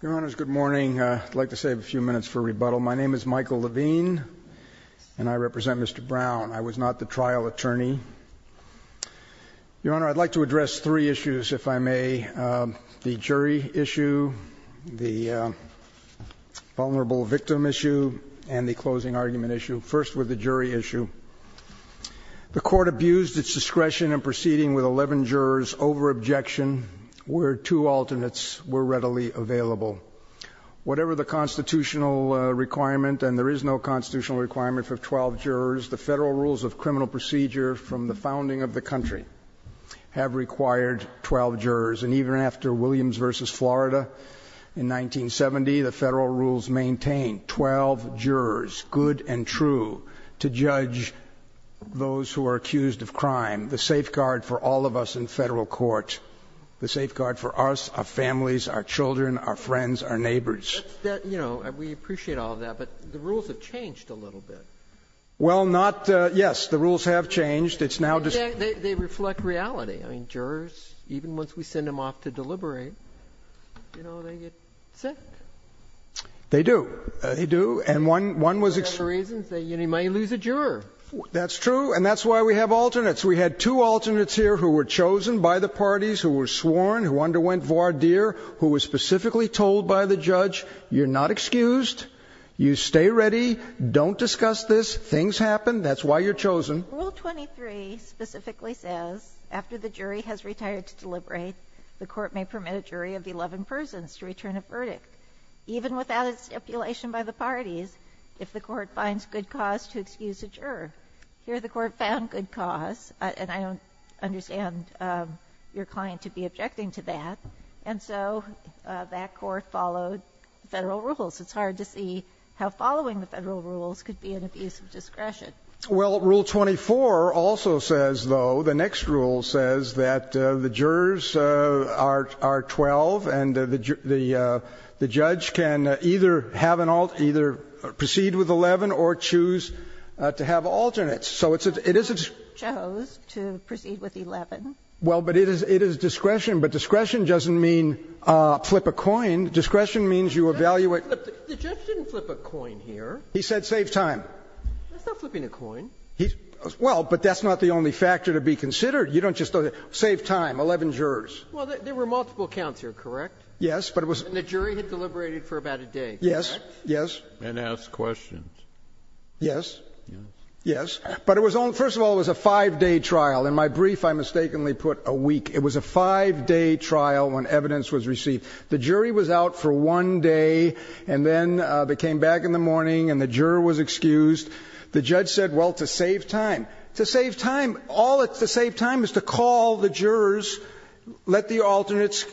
Your Honor, good morning. I'd like to save a few minutes for rebuttal. My name is Michael Levine, and I represent Mr. Brown. I was not the trial attorney. Your Honor, I'd like to address three issues, if I may. The jury issue, the vulnerable victim issue, and the closing argument issue. First, with the jury issue. The court abused its discretion in proceeding with 11 jurors over objection where two alternates were readily available. Whatever the constitutional requirement, and there is no constitutional requirement for 12 jurors, the federal rules of criminal procedure from the founding of the country have required 12 jurors. And even after Williams v. Florida in 1970, the federal rules maintain 12 jurors, good and true, to judge those who are accused of crime. The safeguard for all of us in federal court, the safeguard for us, our families, our children, our friends, our neighbors. Roberts. You know, we appreciate all of that, but the rules have changed a little bit. Well, not — yes, the rules have changed. It's now — They reflect reality. I mean, jurors, even once we send them off to deliberate, you know, they get sick. They do. They do. And one was — For other reasons, they might lose a juror. That's true, and that's why we have alternates. We had two alternates here who were chosen by the parties, who were sworn, who underwent voir dire, who were specifically told by the judge, you're not excused, you stay ready, don't discuss this, things happen, that's why you're chosen. Rule 23 specifically says, after the jury has retired to deliberate, the court may permit a jury of 11 persons to return a verdict, even without a stipulation by the parties, if the court finds good cause to excuse a juror. Here the court found good cause, and I don't understand your client to be objecting to that, and so that court followed Federal rules. It's hard to see how following the Federal rules could be an abuse of discretion. Well, Rule 24 also says, though, the next rule says that the jurors are 12, and the judge can either have an alternate, either proceed with 11 or choose to have alternates. So it's a — it is a — The judge chose to proceed with 11. Well, but it is — it is discretion. But discretion doesn't mean flip a coin. Discretion means you evaluate — The judge didn't flip a coin here. He said save time. That's not flipping a coin. Well, but that's not the only factor to be considered. You don't just say save time, 11 jurors. Well, there were multiple counts here, correct? Yes, but it was — And the jury had deliberated for about a day, correct? Yes, yes. And asked questions. Yes. Yes. Yes. But it was only — first of all, it was a five-day trial. In my brief, I mistakenly put a week. It was a five-day trial when evidence was received. The jury was out for one day, and then they came back in the morning, and the juror was excused. The judge said, well, to save time. To save time. All it's to save time is to call the jurors, let the alternates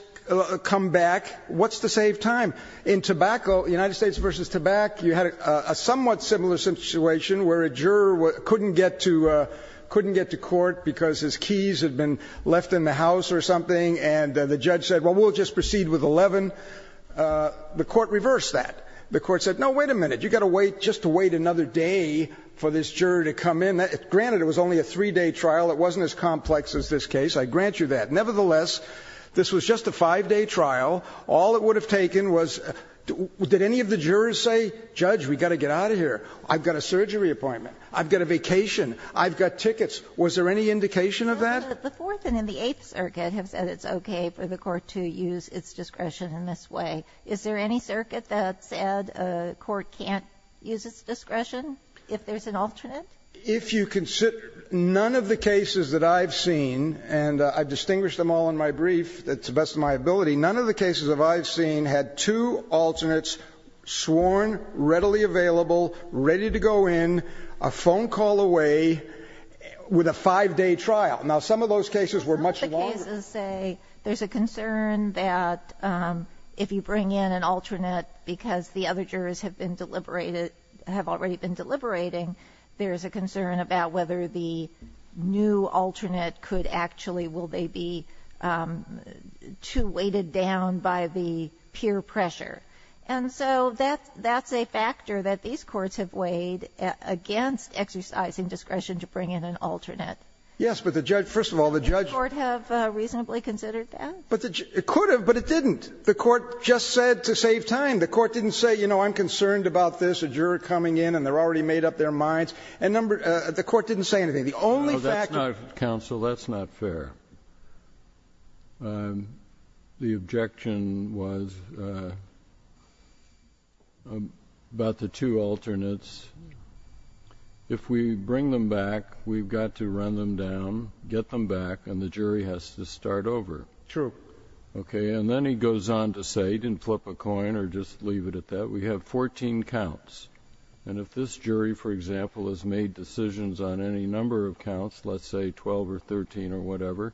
come back. What's to save time? In tobacco, United States v. Tobacco, you had a somewhat similar situation where a juror couldn't get to court because his keys had been left in the house or something, and the judge said, well, we'll just proceed with 11. The court reversed that. The court said, no, wait a minute. You've got to wait just to wait another day for this juror to come in. Granted, it was only a three-day trial. It wasn't as complex as this case. I grant you that. Nevertheless, this was just a five-day trial. All it would have taken was — did any of the jurors say, judge, we've got to get out of here? I've got a surgery appointment. I've got a vacation. I've got tickets. Was there any indication of that? The Fourth and in the Eighth Circuit have said it's okay for the court to use its discretion in this way. Is there any circuit that said a court can't use its discretion if there's an alternate? If you consider none of the cases that I've seen, and I've distinguished them all in my brief to the best of my ability, none of the cases that I've seen had two alternates sworn, readily available, ready to go in, a phone call away, with a five-day trial. Now, some of those cases were much longer. Some of the cases say there's a concern that if you bring in an alternate because the other jurors have been deliberated — have already been deliberating, there's a concern about whether the new alternate could actually — will they be too weighted down by the peer pressure. And so that's a factor that these courts have weighed against exercising discretion to bring in an alternate. Yes, but the judge — first of all, the judge — Did the court have reasonably considered that? It could have, but it didn't. The court just said to save time. The court didn't say, you know, I'm concerned about this, a juror coming in, and they're already made up their minds. And number — the court didn't say anything. The only fact that — No, that's not — counsel, that's not fair. The objection was about the two alternates. If we bring them back, we've got to run them down, get them back, and the jury has to start over. True. Okay. And then he goes on to say, he didn't flip a coin or just leave it at that, we have 14 counts. And if this jury, for example, has made decisions on any number of counts, let's say 12 or 13 or whatever,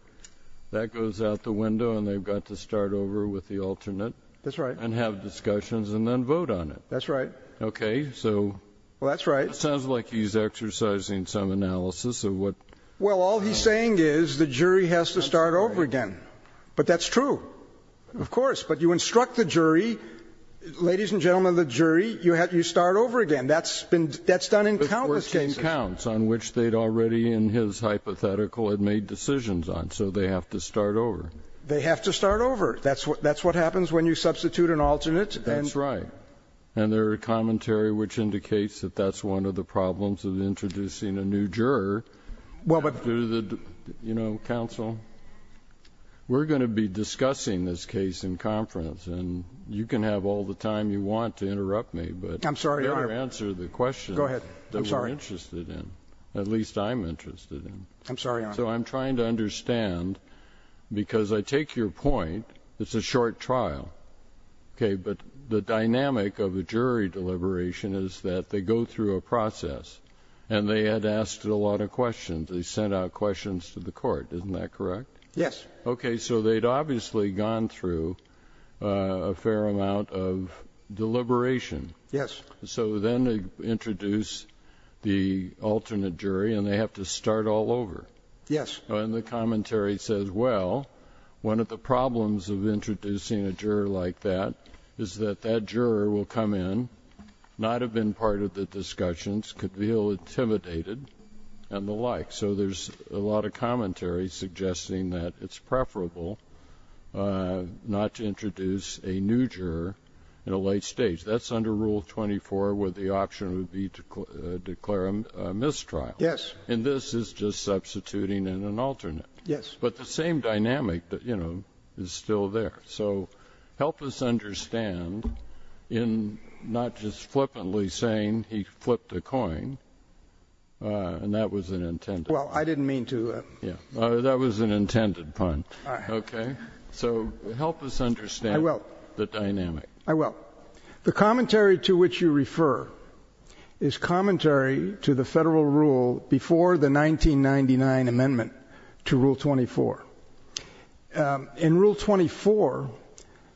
that goes out the window and they've got to start over with the alternate. That's right. And have discussions and then vote on it. That's right. Okay. So — Well, that's right. It sounds like he's exercising some analysis of what — Well, all he's saying is the jury has to start over again. But that's true. Of course. But you instruct the jury, ladies and gentlemen of the jury, you start over again. That's been — that's done in countless cases. But 14 counts on which they'd already in his hypothetical had made decisions on, so they have to start over. They have to start over. That's what happens when you substitute an alternate and — That's right. And there are commentary which indicates that that's one of the problems of introducing a new juror — Well, but — You know, counsel, we're going to be discussing this case in conference, and you can have all the time you want to interrupt me, but — I'm sorry, Your Honor. You better answer the question — Go ahead. I'm sorry. — that we're interested in, at least I'm interested in. I'm sorry, Your Honor. So I'm trying to understand, because I take your point, it's a short trial. Okay. But the dynamic of a jury deliberation is that they go through a process, and they had asked a lot of questions. They sent out questions to the court. Isn't that correct? Yes. Okay. So they'd obviously gone through a fair amount of deliberation. Yes. So then they introduce the alternate jury, and they have to start all over. Yes. And the commentary says, well, one of the problems of introducing a juror like that is that that juror will come in, not have been part of the discussions, could feel intimidated and the like. So there's a lot of commentary suggesting that it's preferable not to introduce a new juror in a late stage. That's under Rule 24 where the option would be to declare a mistrial. Yes. And this is just substituting in an alternate. Yes. But the same dynamic, you know, is still there. So help us understand in not just flippantly saying he flipped a coin, and that was an intended pun. Well, I didn't mean to. That was an intended pun. Okay. So help us understand the dynamic. I will. The commentary to which you refer is commentary to the federal rule before the 1999 amendment to Rule 24. In Rule 24,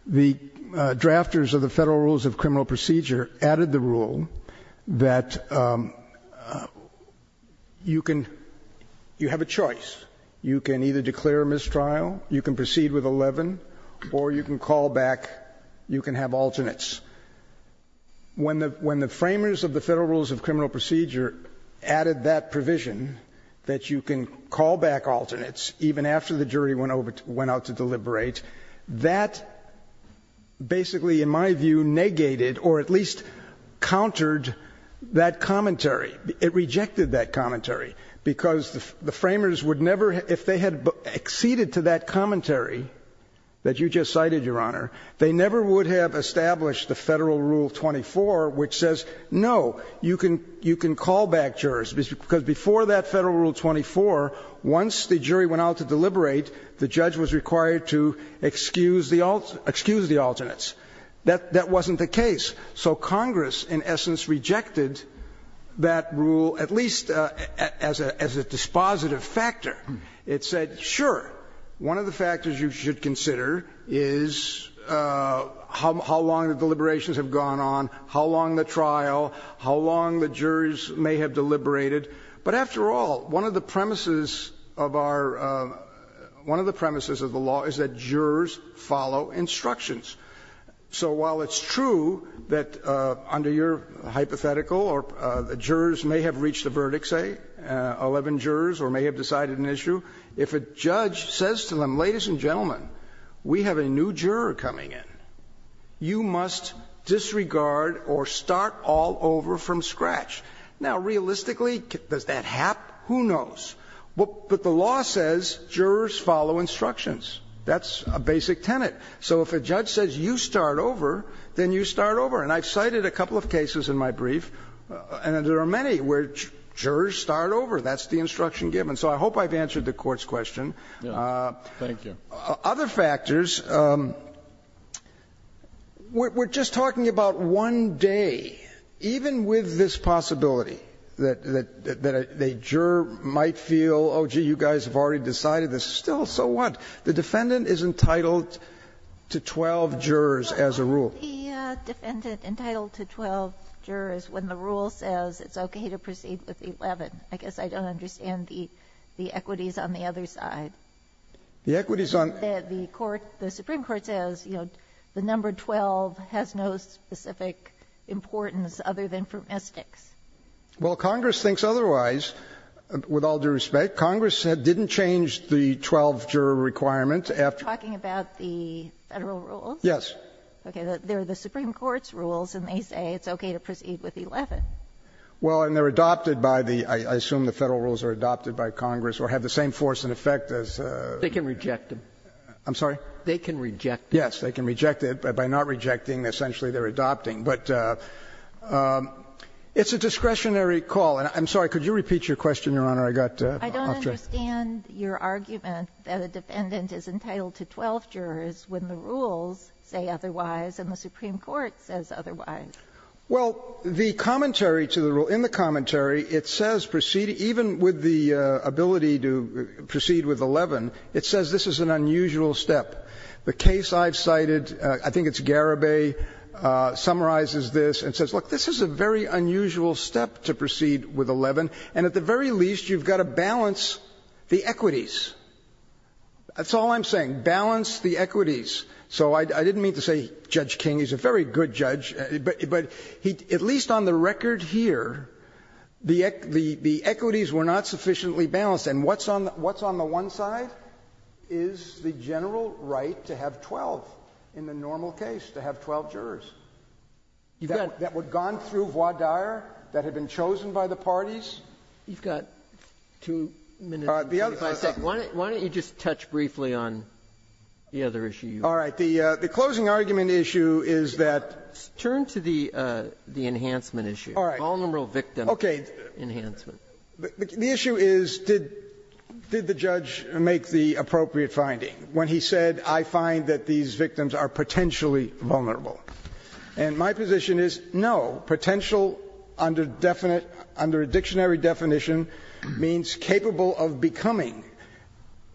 the drafters of the Federal Rules of Criminal Procedure added the rule that you can you have a choice. You can either declare a mistrial, you can proceed with 11, or you can call back, you can have alternates. When the framers of the Federal Rules of Criminal Procedure added that provision that you can call back alternates even after the jury went out to deliberate, that basically, in my view, negated or at least countered that commentary. It rejected that commentary because the framers would never, if they had acceded to that commentary that you just cited, Your Honor, they never would have established the Federal Rule 24 which says, no, you can call back jurors, because before that Federal Rule 24, once the jury went out to deliberate, the judge was required to excuse the alternates. That wasn't the case. So Congress, in essence, rejected that rule, at least as a dispositive factor. It said, sure, one of the factors you should consider is how long the deliberations have gone on, how long the trial, how long the jurors may have deliberated. But after all, one of the premises of our, one of the premises of the law is that jurors follow instructions. So while it's true that under your hypothetical or the jurors may have reached a verdict, say, 11 jurors or may have decided an issue, if a judge says to them, Ladies and gentlemen, we have a new juror coming in. You must disregard or start all over from scratch. Now, realistically, does that happen? Who knows? But the law says jurors follow instructions. That's a basic tenet. So if a judge says you start over, then you start over. And I've cited a couple of cases in my brief, and there are many where jurors start over. That's the instruction given. So I hope I've answered the Court's question. Thank you. Other factors, we're just talking about one day, even with this possibility that a juror might feel, oh, gee, you guys have already decided this. Still, so what? The defendant is entitled to 12 jurors as a rule. The defendant entitled to 12 jurors when the rule says it's okay to proceed with 11. I guess I don't understand the equities on the other side. The equities on the court, the Supreme Court says, you know, the number 12 has no specific importance other than for mystics. Well, Congress thinks otherwise. With all due respect, Congress didn't change the 12-juror requirement after. Are you talking about the Federal rules? Yes. Okay. They're the Supreme Court's rules, and they say it's okay to proceed with 11. Well, and they're adopted by the — I assume the Federal rules are adopted by Congress or have the same force and effect as — They can reject them. I'm sorry? They can reject them. Yes. They can reject it. By not rejecting, essentially they're adopting. But it's a discretionary call. And I'm sorry. Could you repeat your question, Your Honor? I got off track. I don't understand your argument that a defendant is entitled to 12 jurors when the rules say otherwise and the Supreme Court says otherwise. Well, the commentary to the rule — in the commentary, it says proceeding — even with the ability to proceed with 11, it says this is an unusual step. The case I've cited, I think it's Garibay, summarizes this and says, look, this is a very unusual step to proceed with 11, and at the very least, you've got to balance the equities. That's all I'm saying, balance the equities. So I didn't mean to say Judge King. He's a very good judge. But at least on the record here, the equities were not sufficiently balanced. And what's on the one side is the general right to have 12, in the normal case, to have 12 jurors that would have gone through voir dire, that had been chosen by the parties. You've got two minutes and 25 seconds. All right. The closing argument issue is that — Turn to the enhancement issue. All right. Vulnerable victim enhancement. Okay. The issue is, did the judge make the appropriate finding when he said, I find that these victims are potentially vulnerable? And my position is, no. Potential under a dictionary definition means capable of becoming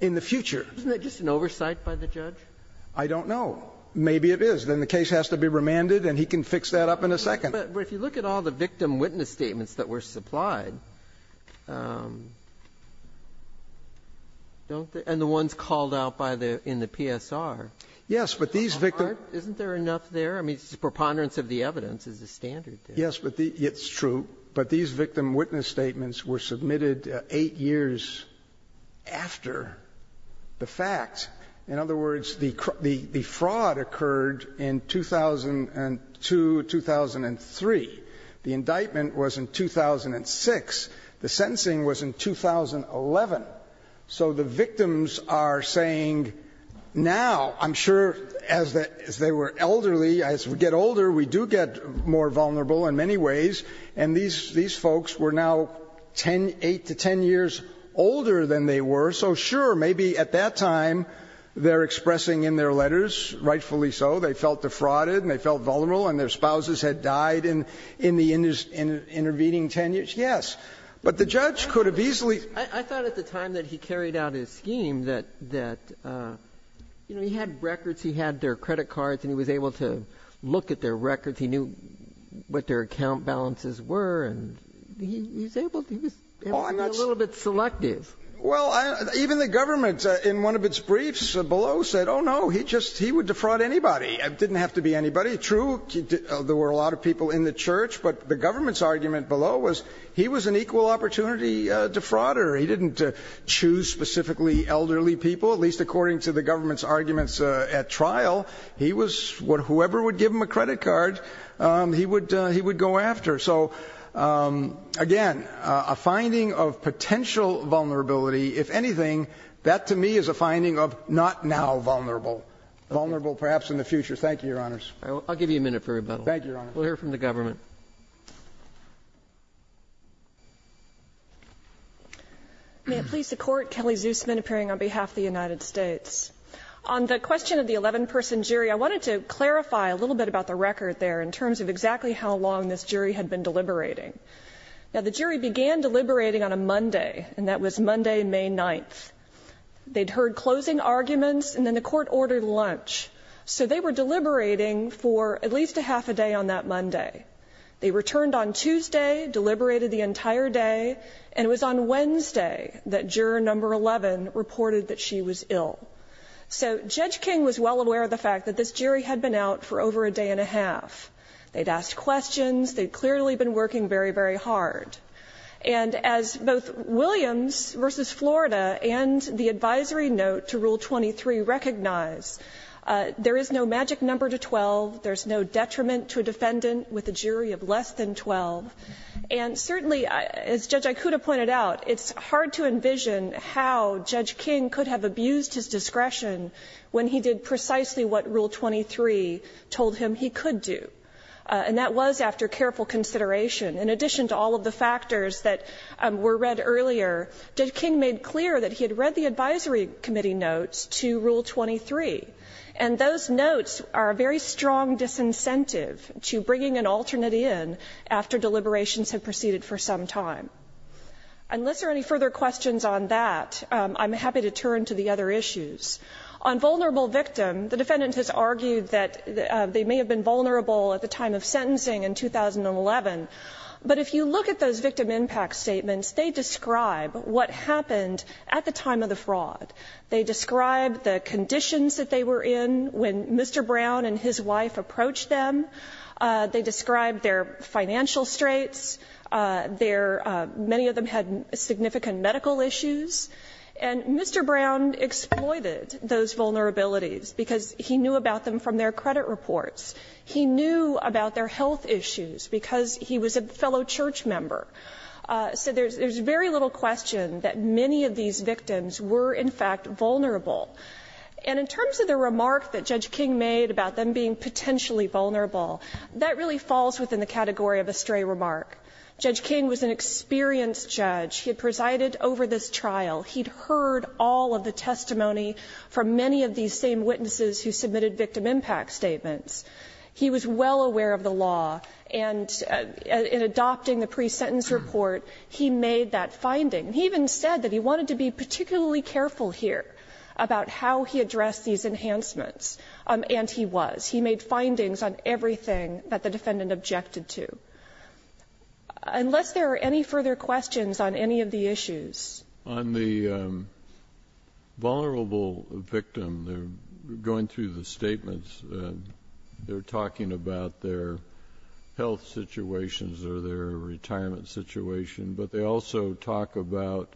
in the future. Isn't that just an oversight by the judge? I don't know. Maybe it is. Then the case has to be remanded, and he can fix that up in a second. But if you look at all the victim witness statements that were supplied, don't the — and the ones called out by the — in the PSR. Yes. But these victims — Isn't there enough there? I mean, preponderance of the evidence is the standard there. Yes. It's true. But these victim witness statements were submitted 8 years after the fact. In other words, the fraud occurred in 2002, 2003. The indictment was in 2006. The sentencing was in 2011. So the victims are saying now, I'm sure, as they were elderly, as we get older, we do get more vulnerable in many ways. And these folks were now 8 to 10 years older than they were. So sure, maybe at that time they're expressing in their letters, rightfully so, they felt defrauded and they felt vulnerable and their spouses had died in the intervening 10 years. Yes. But the judge could have easily — I thought at the time that he carried out his scheme that, you know, he had records, he had their credit cards, and he was able to look at their records. He knew what their account balances were, and he was able to be a little bit selective. Well, even the government in one of its briefs below said, oh, no, he would defraud anybody. It didn't have to be anybody. True, there were a lot of people in the church. But the government's argument below was he was an equal opportunity defrauder. He didn't choose specifically elderly people, at least according to the government's arguments at trial. He was whoever would give him a credit card, he would go after. So, again, a finding of potential vulnerability, if anything, that to me is a finding of not now vulnerable, vulnerable perhaps in the future. Thank you, Your Honors. All right. I'll give you a minute for rebuttal. Thank you, Your Honors. We'll hear from the government. May it please the Court, Kelly Zusman appearing on behalf of the United States. On the question of the 11-person jury, I wanted to clarify a little bit about the record there in terms of exactly how long this jury had been deliberating. Now, the jury began deliberating on a Monday, and that was Monday, May 9th. They'd heard closing arguments, and then the Court ordered lunch. So they were deliberating for at least a half a day on that Monday. They returned on Tuesday, deliberated the entire day, and it was on Wednesday that juror number 11 reported that she was ill. So Judge King was well aware of the fact that this jury had been out for over a day and a half. They'd asked questions. They'd clearly been working very, very hard. And as both Williams v. Florida and the advisory note to Rule 23 recognize, there is no magic number to 12. There's no detriment to a defendant with a jury of less than 12. And certainly, as Judge Ikuda pointed out, it's hard to envision how Judge King could have abused his discretion when he did precisely what Rule 23 told him he could do. And that was after careful consideration. In addition to all of the factors that were read earlier, Judge King made clear that he had read the advisory committee notes to Rule 23. And those notes are a very strong disincentive to bringing an alternate in after deliberations had proceeded for some time. Unless there are any further questions on that, I'm happy to turn to the other issues. On vulnerable victim, the defendant has argued that they may have been vulnerable at the time of sentencing in 2011. But if you look at those victim impact statements, they describe what happened at the time of the fraud. They describe the conditions that they were in when Mr. Brown and his wife approached them. They describe their financial straits. Their — many of them had significant medical issues. And Mr. Brown exploited those vulnerabilities because he knew about them from their credit reports. He knew about their health issues because he was a fellow church member. So there's very little question that many of these victims were, in fact, vulnerable. And in terms of the remark that Judge King made about them being potentially vulnerable, that really falls within the category of a stray remark. Judge King was an experienced judge. He had presided over this trial. He'd heard all of the testimony from many of these same witnesses who submitted victim impact statements. He was well aware of the law. And in adopting the pre-sentence report, he made that finding. He even said that he wanted to be particularly careful here about how he addressed these enhancements. And he was. He made findings on everything that the defendant objected to. Unless there are any further questions on any of the issues. On the vulnerable victim, going through the statements, they're talking about their health situations or their retirement situation. But they also talk about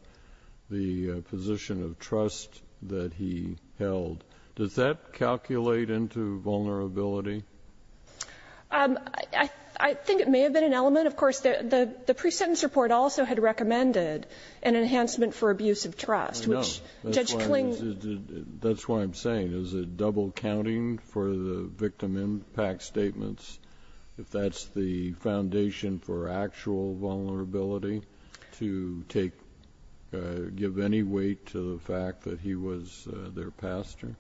the position of trust that he held. Does that calculate into vulnerability? I think it may have been an element. Of course, the pre-sentence report also had recommended an enhancement for abuse of trust. I know. That's what I'm saying. Is it double counting for the victim impact statements, if that's the foundation for actual vulnerability, to give any weight to the fact that he was their pastor?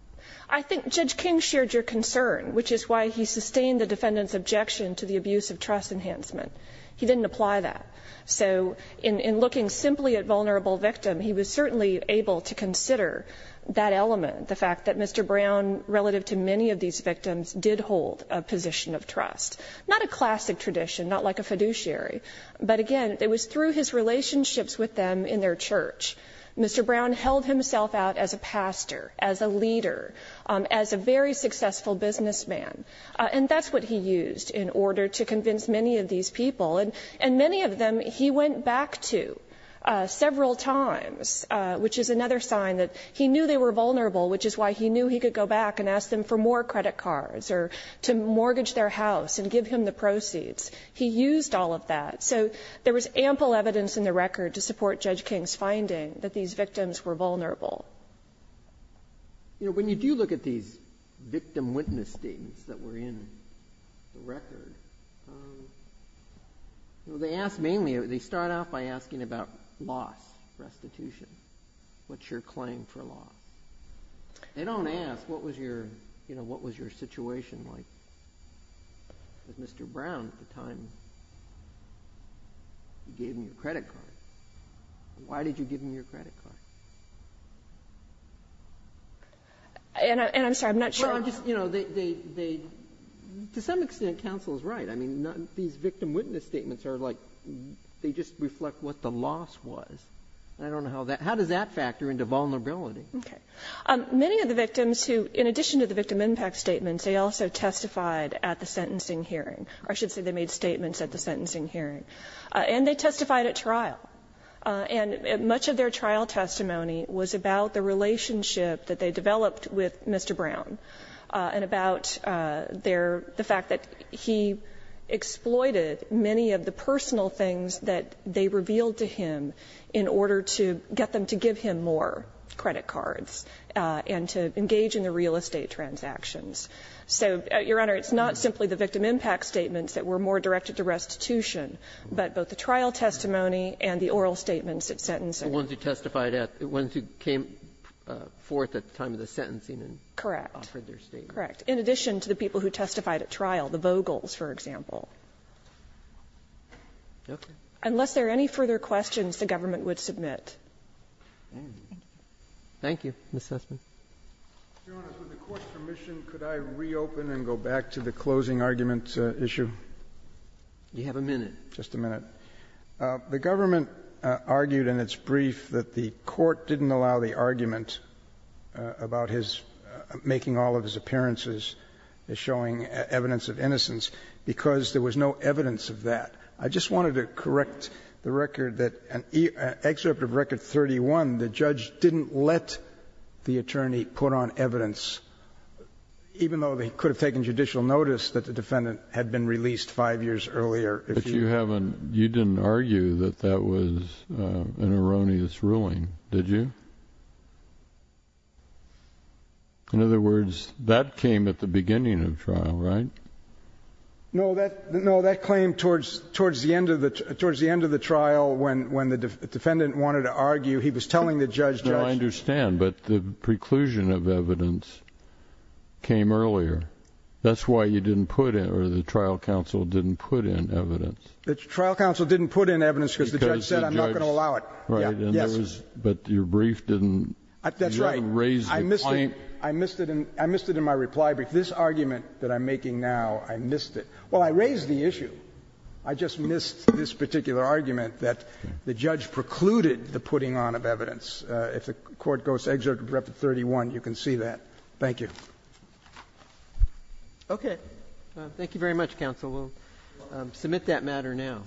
I think Judge King shared your concern, which is why he sustained the defendant's objection to the abuse of trust enhancement. He didn't apply that. So in looking simply at vulnerable victim, he was certainly able to consider that element, the fact that Mr. Brown, relative to many of these victims, did hold a position of trust. Not a classic tradition, not like a fiduciary. But again, it was through his relationships with them in their church. Mr. Brown held himself out as a pastor, as a leader, as a very successful businessman. And that's what he used in order to convince many of these people. And many of them he went back to several times, which is another sign that he knew they were vulnerable, which is why he knew he could go back and ask them for more credit cards or to mortgage their house and give him the proceeds. He used all of that. So there was ample evidence in the record to support Judge King's finding that these victims were vulnerable. You know, when you do look at these victim witness statements that were in the record, they ask mainly, they start off by asking about loss, restitution. What's your claim for loss? They don't ask what was your situation like with Mr. Brown at the time you gave him your credit card. Why did you give him your credit card? And I'm sorry, I'm not sure. Well, I'm just, you know, to some extent counsel is right. I mean, these victim witness statements are like, they just reflect what the loss was. I don't know how that, how does that factor into vulnerability? Okay. Many of the victims who, in addition to the victim impact statements, they also testified at the sentencing hearing, or I should say they made statements at the sentencing hearing. And they testified at trial. And much of their trial testimony was about the relationship that they developed with Mr. Brown and about their, the fact that he exploited many of the personal credit cards and to engage in the real estate transactions. So, Your Honor, it's not simply the victim impact statements that were more directed to restitution, but both the trial testimony and the oral statements at sentencing. The ones who testified at, the ones who came forth at the time of the sentencing and offered their statements. Correct. In addition to the people who testified at trial, the Vogels, for example. Okay. Unless there are any further questions, the government would submit. Thank you. Ms. Sussman. Your Honor, with the Court's permission, could I reopen and go back to the closing argument issue? You have a minute. Just a minute. The government argued in its brief that the Court didn't allow the argument about his making all of his appearances as showing evidence of innocence because there was no evidence of that. I just wanted to correct the record that in Excerpt of Record 31, the judge didn't let the attorney put on evidence, even though they could have taken judicial notice that the defendant had been released five years earlier. But you haven't, you didn't argue that that was an erroneous ruling, did you? In other words, that came at the beginning of trial, right? No. That claim towards the end of the trial when the defendant wanted to argue, he was telling the judge, Judge. No, I understand. But the preclusion of evidence came earlier. That's why you didn't put in, or the trial counsel didn't put in evidence. The trial counsel didn't put in evidence because the judge said, I'm not going to allow it. Right. But your brief didn't raise the point. That's right. I missed it. I missed it in my reply brief. In fact, this argument that I'm making now, I missed it. Well, I raised the issue. I just missed this particular argument that the judge precluded the putting on of evidence. If the Court goes to Excerpt of Record 31, you can see that. Thank you. Okay. Thank you very much, counsel. We'll submit that matter now.